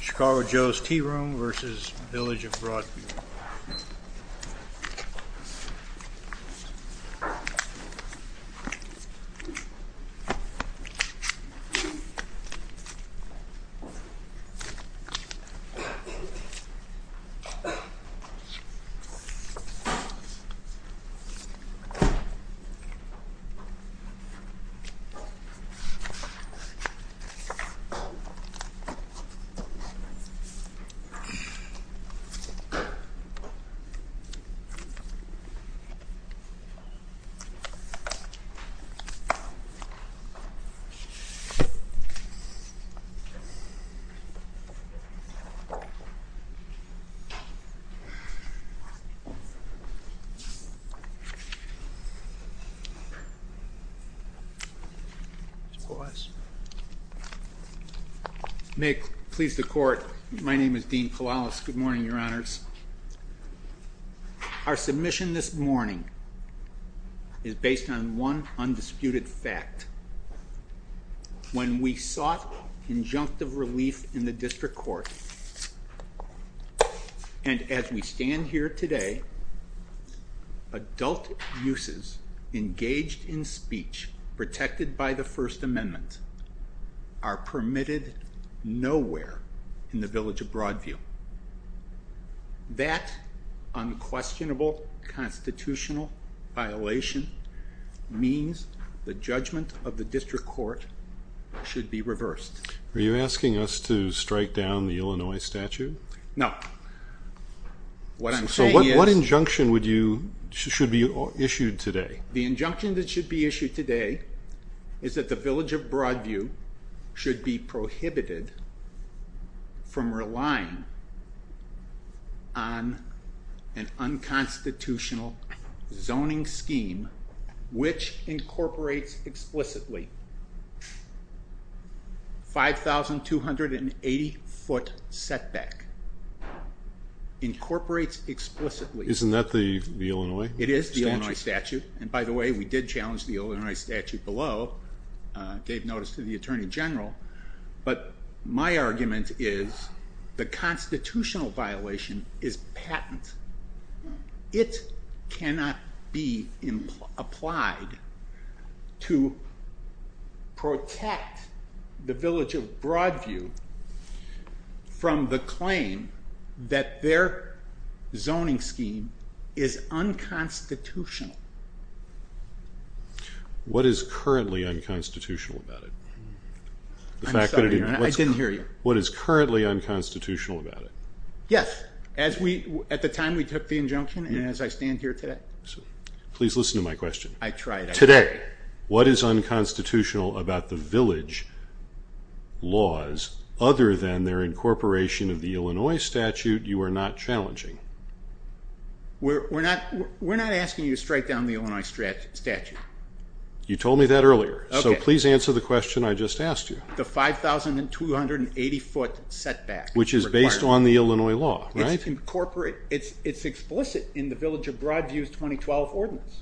Chicago Joe's Tea Room v. Village of Broadview May it please the court, my name is Dean Kalalas. Good morning, your honors. Our submission this morning is based on one undisputed fact. When we sought injunctive relief in the district court, and as we stand here today, adult uses engaged in speech protected by the First Amendment are permitted nowhere in the Village of Broadview. That unquestionable constitutional violation means the judgment of the district court should be reversed. Are you asking us to strike down the Illinois statute? No. What I'm saying is... So what injunction should be issued today? The injunction that should be issued today is that the Village of Broadview should be prohibited from relying on an unconstitutional zoning scheme which incorporates explicitly 5,280 foot setback. Incorporates explicitly. Isn't that the Illinois statute? And by the way, we did challenge the Illinois statute below. Gave notice to the Attorney General. But my argument is the constitutional violation is patent. It cannot be applied to protect the Village of Broadview from the claim that their zoning scheme is unconstitutional. What is currently unconstitutional about it? I'm sorry, Your Honor. I didn't hear you. What is currently unconstitutional about it? Yes. At the time we took the injunction and as I stand here today. Please listen to my question. I tried. Today, what is unconstitutional about the Village laws other than their incorporation of the Illinois statute you are not challenging? We're not asking you to strike down the Illinois statute. You told me that earlier. So please answer the question I just asked you. The 5,280 foot setback. Which is based on the Illinois law, right? It's explicit in the Village of Broadview's 2012 ordinance.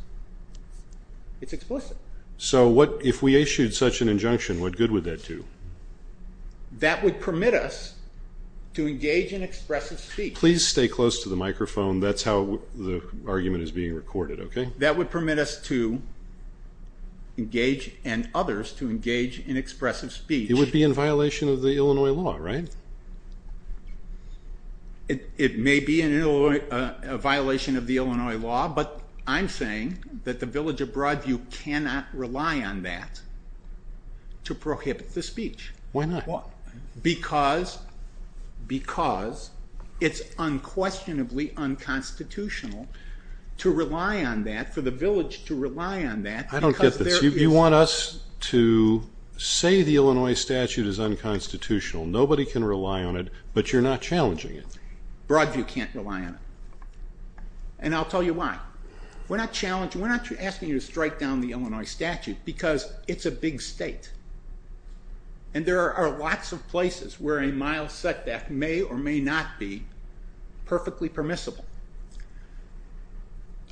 It's explicit. So if we issued such an injunction, what good would that do? That would permit us to engage in expressive speech. Please stay close to the microphone. That's how the argument is being recorded, okay? That would permit us to engage and others to engage in expressive speech. It would be in violation of the Illinois law, right? It may be in violation of the Illinois law, but I'm saying that the Village of Broadview cannot rely on that to prohibit the speech. Why not? Because it's unquestionably unconstitutional to rely on that, for the Village to rely on that. I don't get this. You want us to say the Illinois statute is unconstitutional. Nobody can rely on it, but you're not challenging it. Broadview can't rely on it, and I'll tell you why. We're not asking you to strike down the Illinois statute because it's a big state, and there are lots of places where a mild setback may or may not be perfectly permissible.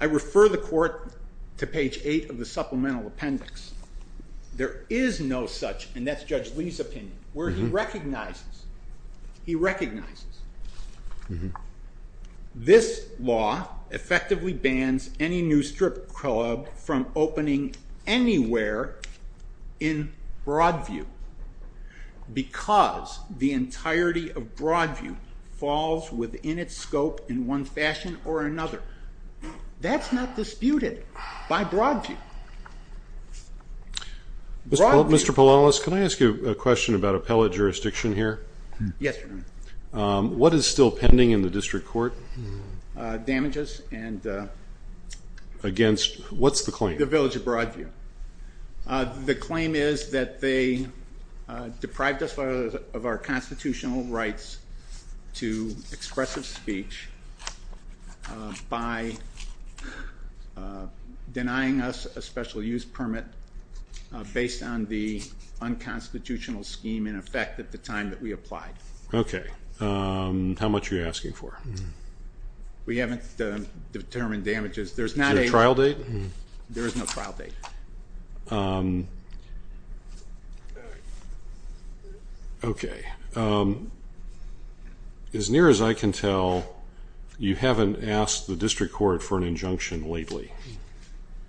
I refer the court to page 8 of the supplemental appendix. There is no such, and that's Judge Lee's opinion, where he recognizes this law effectively bans any new strip club from opening anywhere in Broadview because the entirety of Broadview falls within its scope in one fashion or another. That's not disputed by Broadview. Mr. Polalis, can I ask you a question about appellate jurisdiction here? Yes, Your Honor. What is still pending in the district court? Damages. Against what's the claim? The Village of Broadview. The claim is that they deprived us of our constitutional rights to based on the unconstitutional scheme in effect at the time that we applied. Okay. How much are you asking for? We haven't determined damages. Is there a trial date? There is no trial date. Okay. As near as I can tell, you haven't asked the district court for an injunction lately.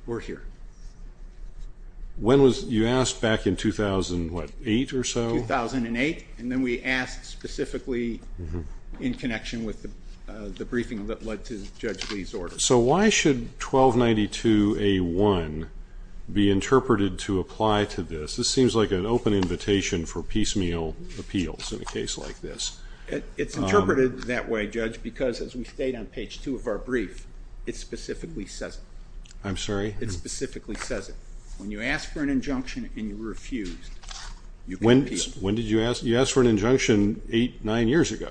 We're here. You asked back in 2008 or so? 2008, and then we asked specifically in connection with the briefing that led to Judge Lee's order. So why should 1292A1 be interpreted to apply to this? This seems like an open invitation for piecemeal appeals in a case like this. It's interpreted that way, Judge, because as we state on page two of our brief, it specifically says it. I'm sorry? It specifically says it. When you ask for an injunction and you refuse, you can appeal. When did you ask? You asked for an injunction eight, nine years ago.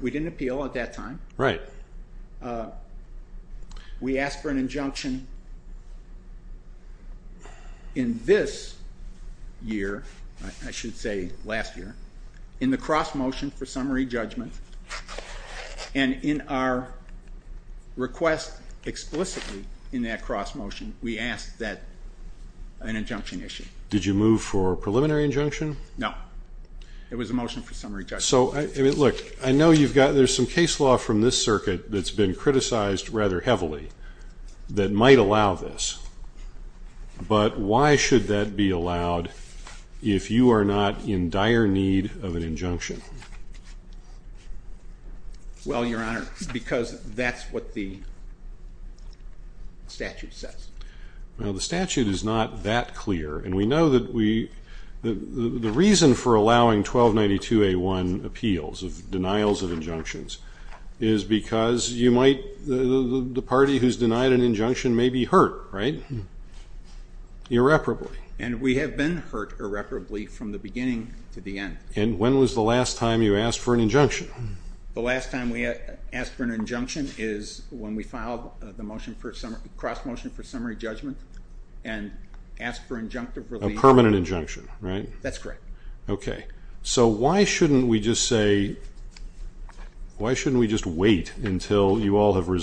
We didn't appeal at that time. Right. We asked for an injunction in this year, I should say last year, in the cross motion for summary judgment, and in our request explicitly in that cross motion, we asked that an injunction issue. Did you move for a preliminary injunction? No. It was a motion for summary judgment. Look, I know there's some case law from this circuit that's been criticized rather heavily that might allow this, but why should that be allowed if you are not in dire need of an injunction? Well, Your Honor, because that's what the statute says. Well, the statute is not that clear, and we know that the reason for allowing 1292A1 appeals of denials of injunctions is because you might the party who's denied an injunction may be irreparably. And we have been hurt irreparably from the beginning to the end. And when was the last time you asked for an injunction? The last time we asked for an injunction is when we filed the motion for cross motion for summary judgment and asked for injunctive relief. A permanent injunction, right? That's correct. Okay. So why shouldn't we just say why shouldn't we just wait until you all have Your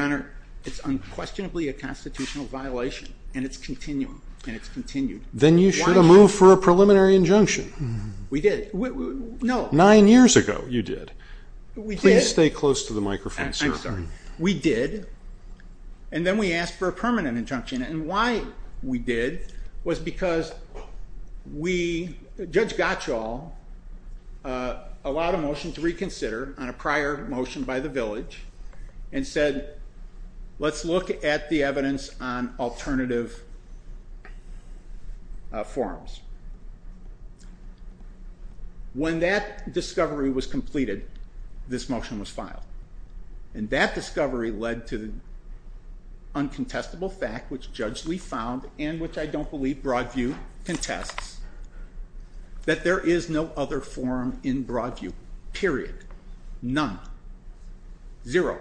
Honor, it's unquestionably a constitutional violation, and it's continuing and it's continued. Then you should have moved for a preliminary injunction. We did. No. Nine years ago, you did. We did. Please stay close to the microphone, sir. I'm sorry. We did. And then we asked for a permanent injunction. And why we did was because we, Judge Gottschall, allowed a motion to reconsider on a prior motion by the village and said, let's look at the evidence on alternative forms. When that discovery was completed, this motion was filed. And that discovery led to the uncontestable fact, which Judge Lee found and which I don't believe Broadview contests, that there is no other form in Broadview. Period. None. Zero.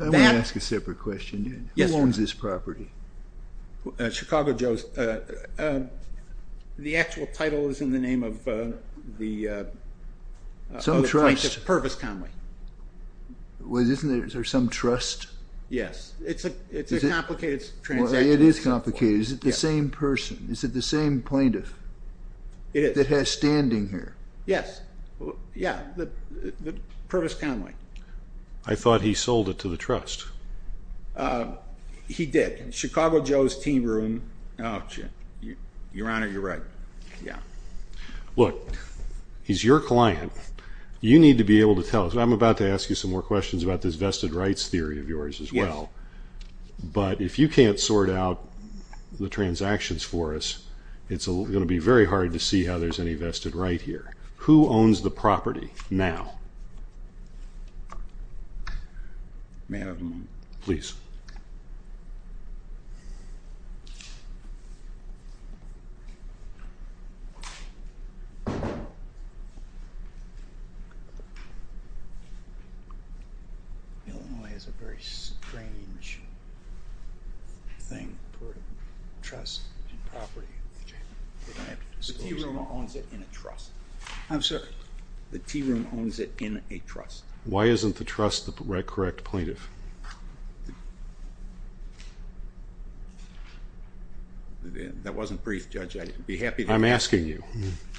I want to ask a separate question. Who owns this property? Chicago Joe's. The actual title is in the name of the plaintiff, Purvis Conway. Isn't there some trust? Yes. It's a complicated transaction. It is complicated. Is it the same person? Is it the same plaintiff that has standing here? Yes. Yeah, Purvis Conway. I thought he sold it to the trust. He did. Chicago Joe's team room. Oh, you're on it. You're right. Yeah. Look, he's your client. You need to be able to tell us. I'm about to ask you some more questions about this vested rights theory of yours as well. But if you can't sort out the transactions for us, it's going to be very hard to see how there's any vested right here. Who owns the property now? Ma'am. Please. Illinois has a very strange thing for trust in property. The team room owns it in a trust. I'm sorry. The team room owns it in a trust. Why isn't the trust the correct plaintiff? That wasn't brief, Judge. I'd be happy to answer that. I'm asking you.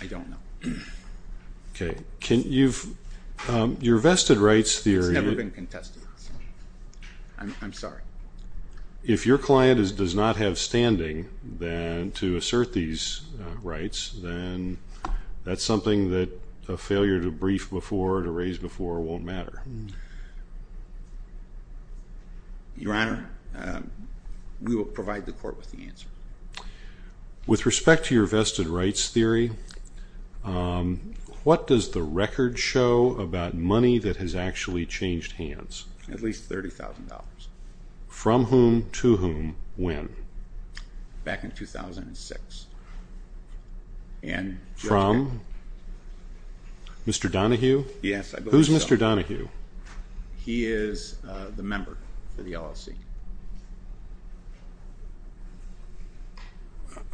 I don't know. Okay. Your vested rights theory. It's never been contested. I'm sorry. If your client does not have standing to assert these rights, then that's something that a failure to brief before or to raise before won't matter. Your Honor, we will provide the court with the answer. With respect to your vested rights theory, what does the record show about money that has actually changed hands? At least $30,000. From whom to whom when? Back in 2006. From Mr. Donohue? Yes. Who's Mr. Donohue? He is the member for the LLC.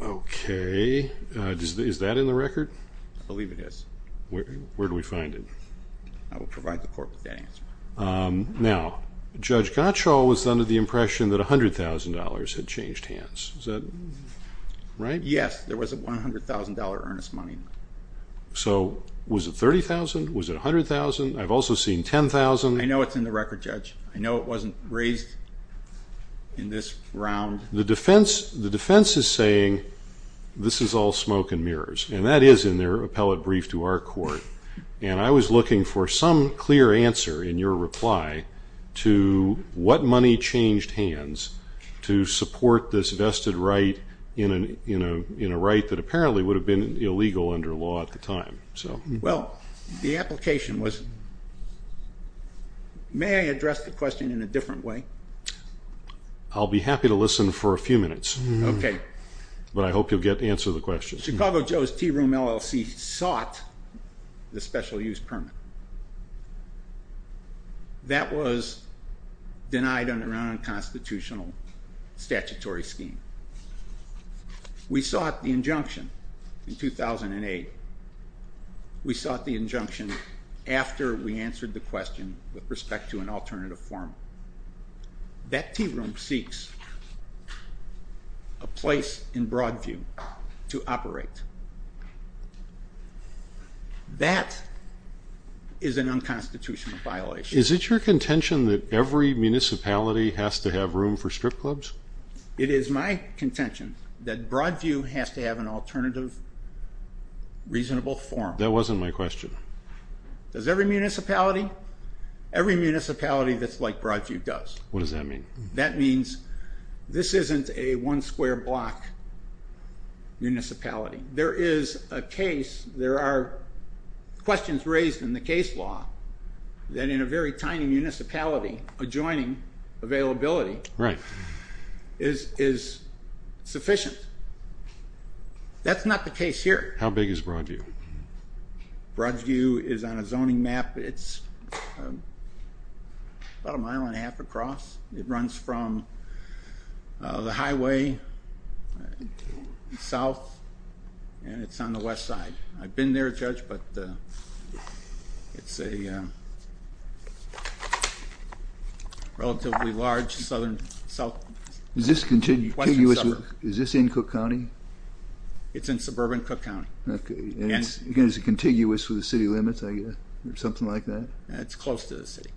Okay. Is that in the record? I believe it is. Where do we find it? I will provide the court with that answer. Now, Judge Gottschall was under the impression that $100,000 had changed hands. Is that right? Yes. There was a $100,000 earnest money. Was it $30,000? Was it $100,000? I've also seen $10,000. I know it's in the record, Judge. I know it wasn't raised in this round. The defense is saying this is all smoke and mirrors, and that is in their appellate brief to our court. I was looking for some clear answer in your reply to what money changed hands to support this vested right in a right that apparently would have been illegal under law at the time. Well, the application was May I address the question in a different way? I'll be happy to listen for a few minutes. Okay. But I hope you'll get the answer to the question. Chicago Joe's Tea Room LLC sought the special use permit. That was denied under our own constitutional statutory scheme. We sought the injunction in 2008. We sought the injunction after we answered the question with respect to an alternative form. That tea room seeks a place in Broadview to operate. That is an unconstitutional violation. Is it your contention that every municipality has to have room for strip clubs? It is my contention that Broadview has to have an alternative reasonable form. That wasn't my question. Does every municipality? Every municipality that's like Broadview does. What does that mean? That means this isn't a one square block municipality. There is a case. There are questions raised in the case law that in a very tiny municipality adjoining availability is sufficient. That's not the case here. How big is Broadview? Broadview is on a zoning map. It's about a mile and a half across. It runs from the highway south, and it's on the west side. I've been there, Judge, but it's a relatively large south. Is this in Cook County? It's in suburban Cook County. Is it contiguous with the city limits or something like that? It's close to the city.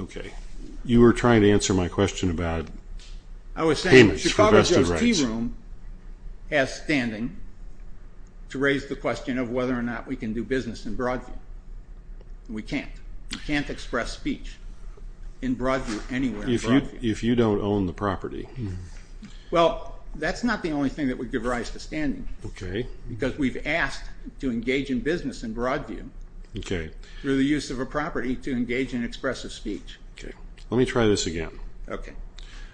Okay. You were trying to answer my question about payments for vested rights. I was saying Chicago Joe's Tea Room has standing to raise the question of whether or not we can do business in Broadview. We can't. We can't express speech in Broadview anywhere in Broadview. If you don't own the property. Well, that's not the only thing that would give rise to standing because we've asked to engage in business in Broadview through the use of a property to engage in expressive speech. Let me try this again.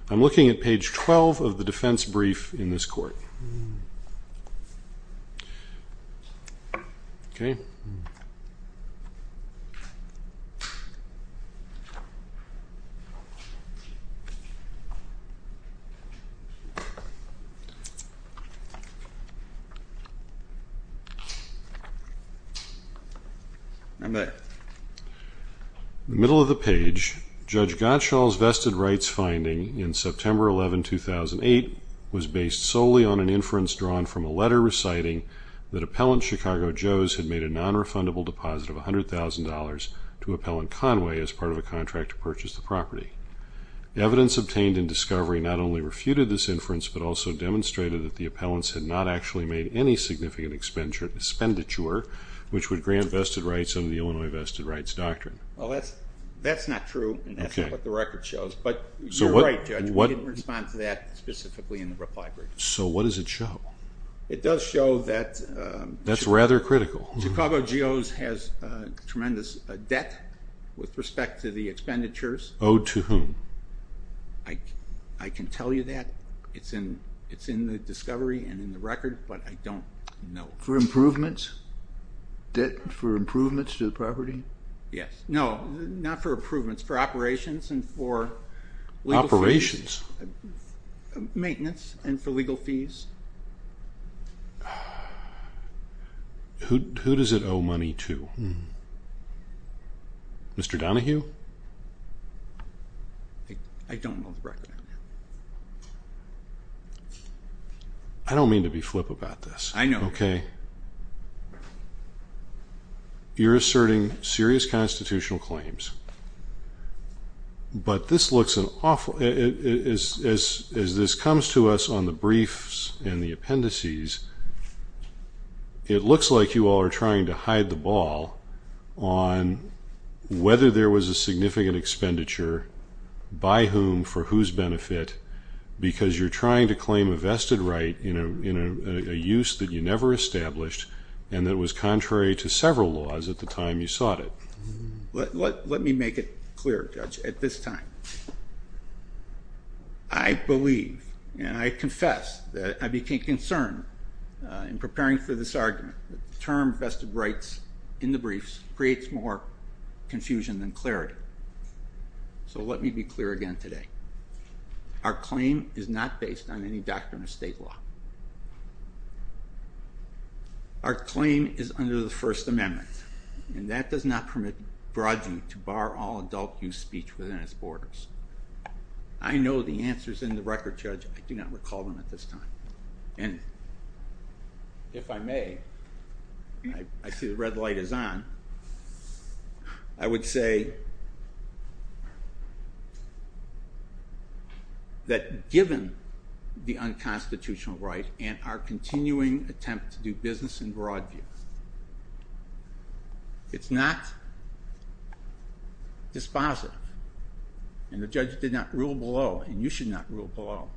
I'm looking at page 12 of the defense brief in this court. I'm back. In the middle of the page, Judge Gottschall's vested rights finding in September 11, 2008, was based solely on an inference drawn from a letter reciting that appellant Chicago Joe's had made a nonrefundable deposit of $100,000 to appellant Conway as part of a contract to purchase the property. Evidence obtained in discovery not only refuted this inference, but also demonstrated that the appellants had not actually made any significant expenditure which would grant vested rights under the Illinois vested rights doctrine. Well, that's not true and that's not what the record shows. But you're right, Judge. We didn't respond to that specifically in the reply brief. So what does it show? It does show that... That's rather critical. Chicago Joe's has tremendous debt with respect to the expenditures. Owed to whom? I can tell you that. It's in the discovery and in the record, but I don't know. For improvements? Debt for improvements to the property? Yes. No, not for improvements. For operations and for legal fees. Operations? Maintenance and for legal fees. Who does it owe money to? Mr. Donohue? I don't know the record. I don't mean to be flip about this. I know. Okay. You're asserting serious constitutional claims. But this looks an awful... As this comes to us on the briefs and the appendices, it looks like you all are trying to hide the ball on whether there was a significant expenditure, by whom, for whose benefit, because you're trying to claim a vested right in a use that you never established and that was contrary to several laws at the time you sought it. Let me make it clear, Judge, at this time. I believe and I confess that I became concerned in preparing for this argument that the term vested rights in the briefs creates more confusion than clarity. So let me be clear again today. Our claim is not based on any doctrine of state law. Our claim is under the First Amendment, and that does not permit broad view to bar all adult use speech within its borders. I know the answers in the record, Judge. I do not recall them at this time. And if I may, I see the red light is on. I would say that given the unconstitutional right and our continuing attempt to do business in broad view, it's not dispositive. And the judge did not rule below, and you should not rule below,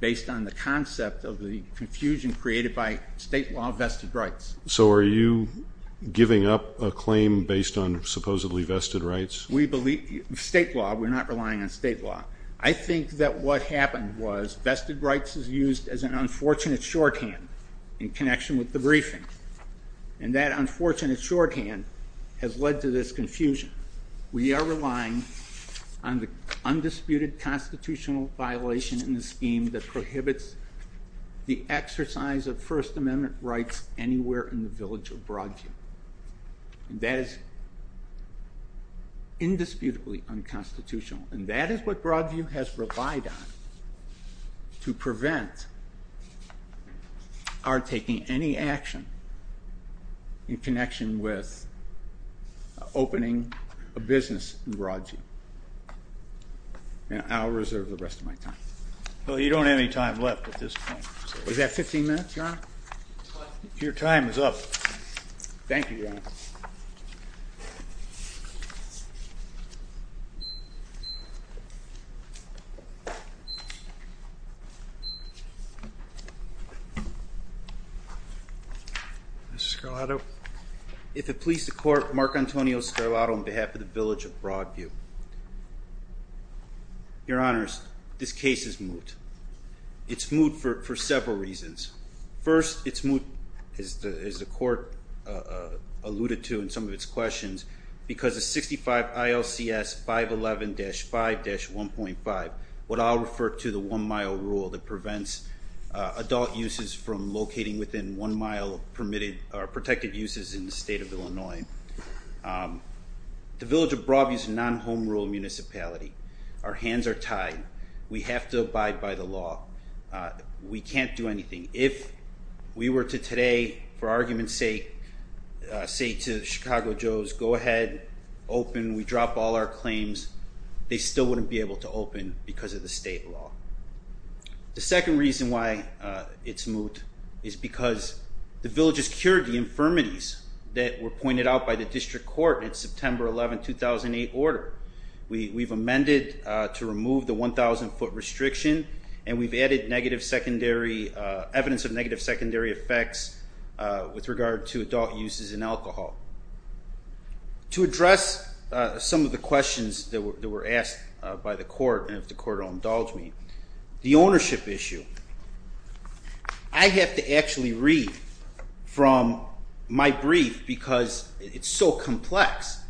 based on the concept of the confusion created by state law vested rights. So are you giving up a claim based on supposedly vested rights? State law. We're not relying on state law. I think that what happened was vested rights is used as an unfortunate shorthand in connection with the briefing. And that unfortunate shorthand has led to this confusion. We are relying on the undisputed constitutional violation in the scheme that prohibits the exercise of First Amendment rights anywhere in the village of broad view. And that is indisputably unconstitutional. And that is what broad view has relied on to prevent our taking any action in connection with opening a business in broad view. And I'll reserve the rest of my time. Well, you don't have any time left at this point. Was that 15 minutes, John? Your time is up. Thank you, Your Honor. Mr. Scarlato. If it please the court, Mark Antonio Scarlato on behalf of the village of broad view. Your Honors, this case is moot. It's moot for several reasons. First, it's moot, as the court alluded to in some of its questions, because of 65 ILCS 511-5-1.5, what I'll refer to the one mile rule that prevents adult uses from locating within one mile of permitted or protected uses in the state of Illinois. The village of broad view is a non-home rule municipality. Our hands are tied. We have to abide by the law. We can't do anything. If we were to today, for argument's sake, say to Chicago Joes, go ahead, open. We drop all our claims. They still wouldn't be able to open because of the state law. The second reason why it's moot is because the village has cured the infirmities that were pointed out by the district court in September 11, 2008 order. We've amended to remove the 1,000 foot restriction and we've added negative secondary, evidence of negative secondary effects with regard to adult uses in alcohol. To address some of the questions that were asked by the court, and if the court will indulge me, the ownership issue. I have to actually read from my brief because it's so complex.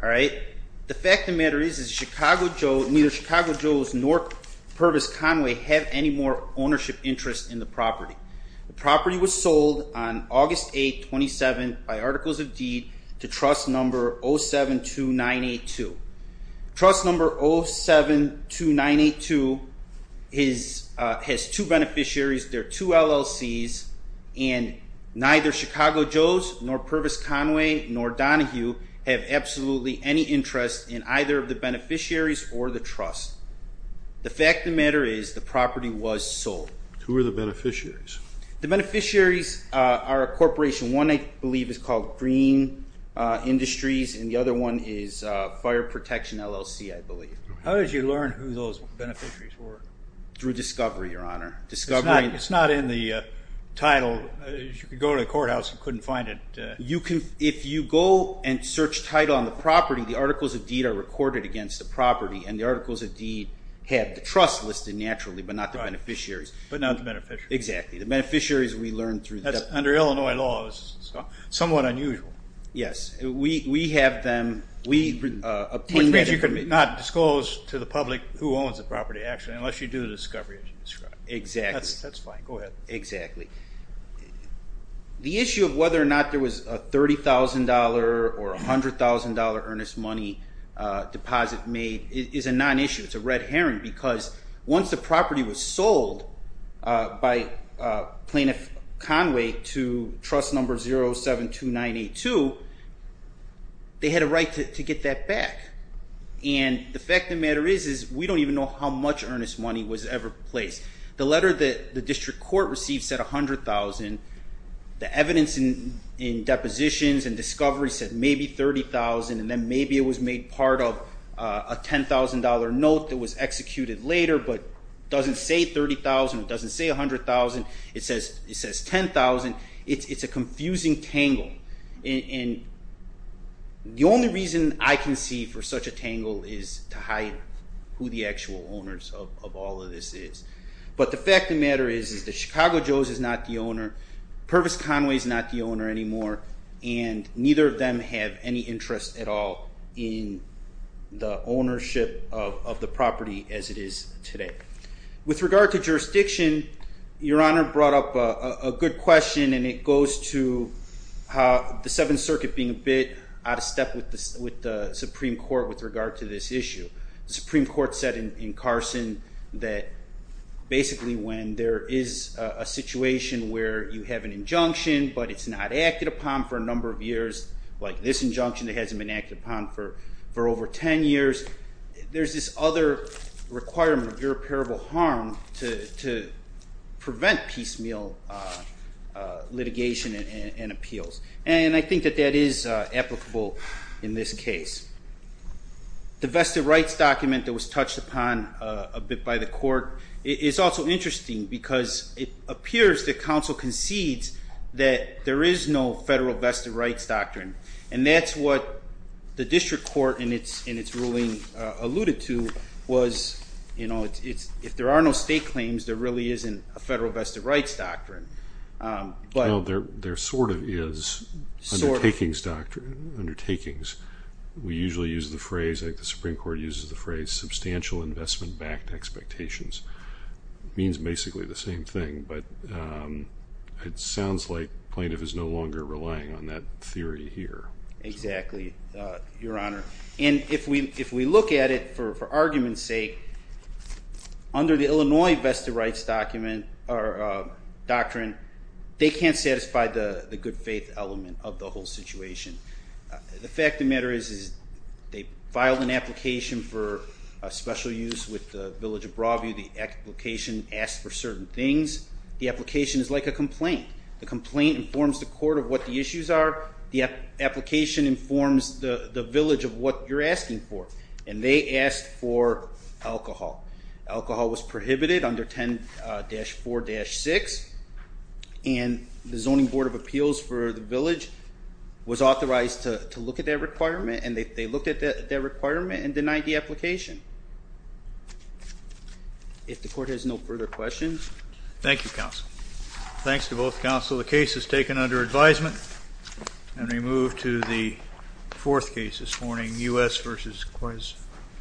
The fact of the matter is neither Chicago Joes nor Pervis Conway have any more ownership interest in the property. The property was sold on August 8, 27 by Articles of Deed to trust number 072982. Trust number 072982 has two beneficiaries. They're two LLCs and neither Chicago Joes nor Pervis Conway nor Donahue have absolutely any interest in either of the beneficiaries or the trust. The fact of the matter is the property was sold. Who are the beneficiaries? The beneficiaries are a corporation. One I believe is called Green Industries and the other one is Fire Protection LLC, I believe. How did you learn who those beneficiaries were? Through discovery, Your Honor. It's not in the title. You could go to the courthouse and couldn't find it. If you go and search title on the property, the Articles of Deed are recorded against the property, and the Articles of Deed have the trust listed naturally but not the beneficiaries. But not the beneficiaries. Exactly. The beneficiaries we learned through. That's under Illinois law is somewhat unusual. Yes. We have them. Which means you could not disclose to the public who owns the property actually unless you do the discovery as you described. Exactly. That's fine. Go ahead. Exactly. The issue of whether or not there was a $30,000 or $100,000 earnest money deposit made is a non-issue. It's a red herring because once the property was sold by Plaintiff Conway to trust number 072982, they had a right to get that back. And the fact of the matter is we don't even know how much earnest money was ever placed. The letter that the district court received said $100,000. The evidence in depositions and discovery said maybe $30,000, and then maybe it was made part of a $10,000 note that was executed later, but it doesn't say $30,000. It doesn't say $100,000. It says $10,000. It's a confusing tangle. And the only reason I can see for such a tangle is to hide who the actual owners of all of this is. But the fact of the matter is that Chicago Joes is not the owner, Purvis Conway is not the owner anymore, and neither of them have any interest at all in the ownership of the property as it is today. With regard to jurisdiction, Your Honor brought up a good question, and it goes to the Seventh Circuit being a bit out of step with the Supreme Court with regard to this issue. The Supreme Court said in Carson that basically when there is a situation where you have an injunction but it's not acted upon for a number of years, like this injunction that hasn't been acted upon for over 10 years, there's this other requirement of irreparable harm to prevent piecemeal litigation and appeals. And I think that that is applicable in this case. The vested rights document that was touched upon a bit by the court is also interesting because it appears that counsel concedes that there is no federal vested rights doctrine. And that's what the district court in its ruling alluded to, was if there are no state claims, there really isn't a federal vested rights doctrine. Well, there sort of is undertakings. We usually use the phrase, I think the Supreme Court uses the phrase, substantial investment-backed expectations. It means basically the same thing, but it sounds like plaintiff is no longer relying on that theory here. Exactly, Your Honor. And if we look at it for argument's sake, under the Illinois vested rights doctrine, they can't satisfy the good faith element of the whole situation. The fact of the matter is they filed an application for special use with the Village of Broadview. The application asked for certain things. The application is like a complaint. The complaint informs the court of what the issues are. The application informs the village of what you're asking for. And they asked for alcohol. Alcohol was prohibited under 10-4-6, and the zoning board of appeals for the village was authorized to look at that requirement, and they looked at that requirement and denied the application. If the court has no further questions. Thank you, counsel. Thanks to both counsel. The case is taken under advisement, and we move to the fourth case this morning, U.S. versus.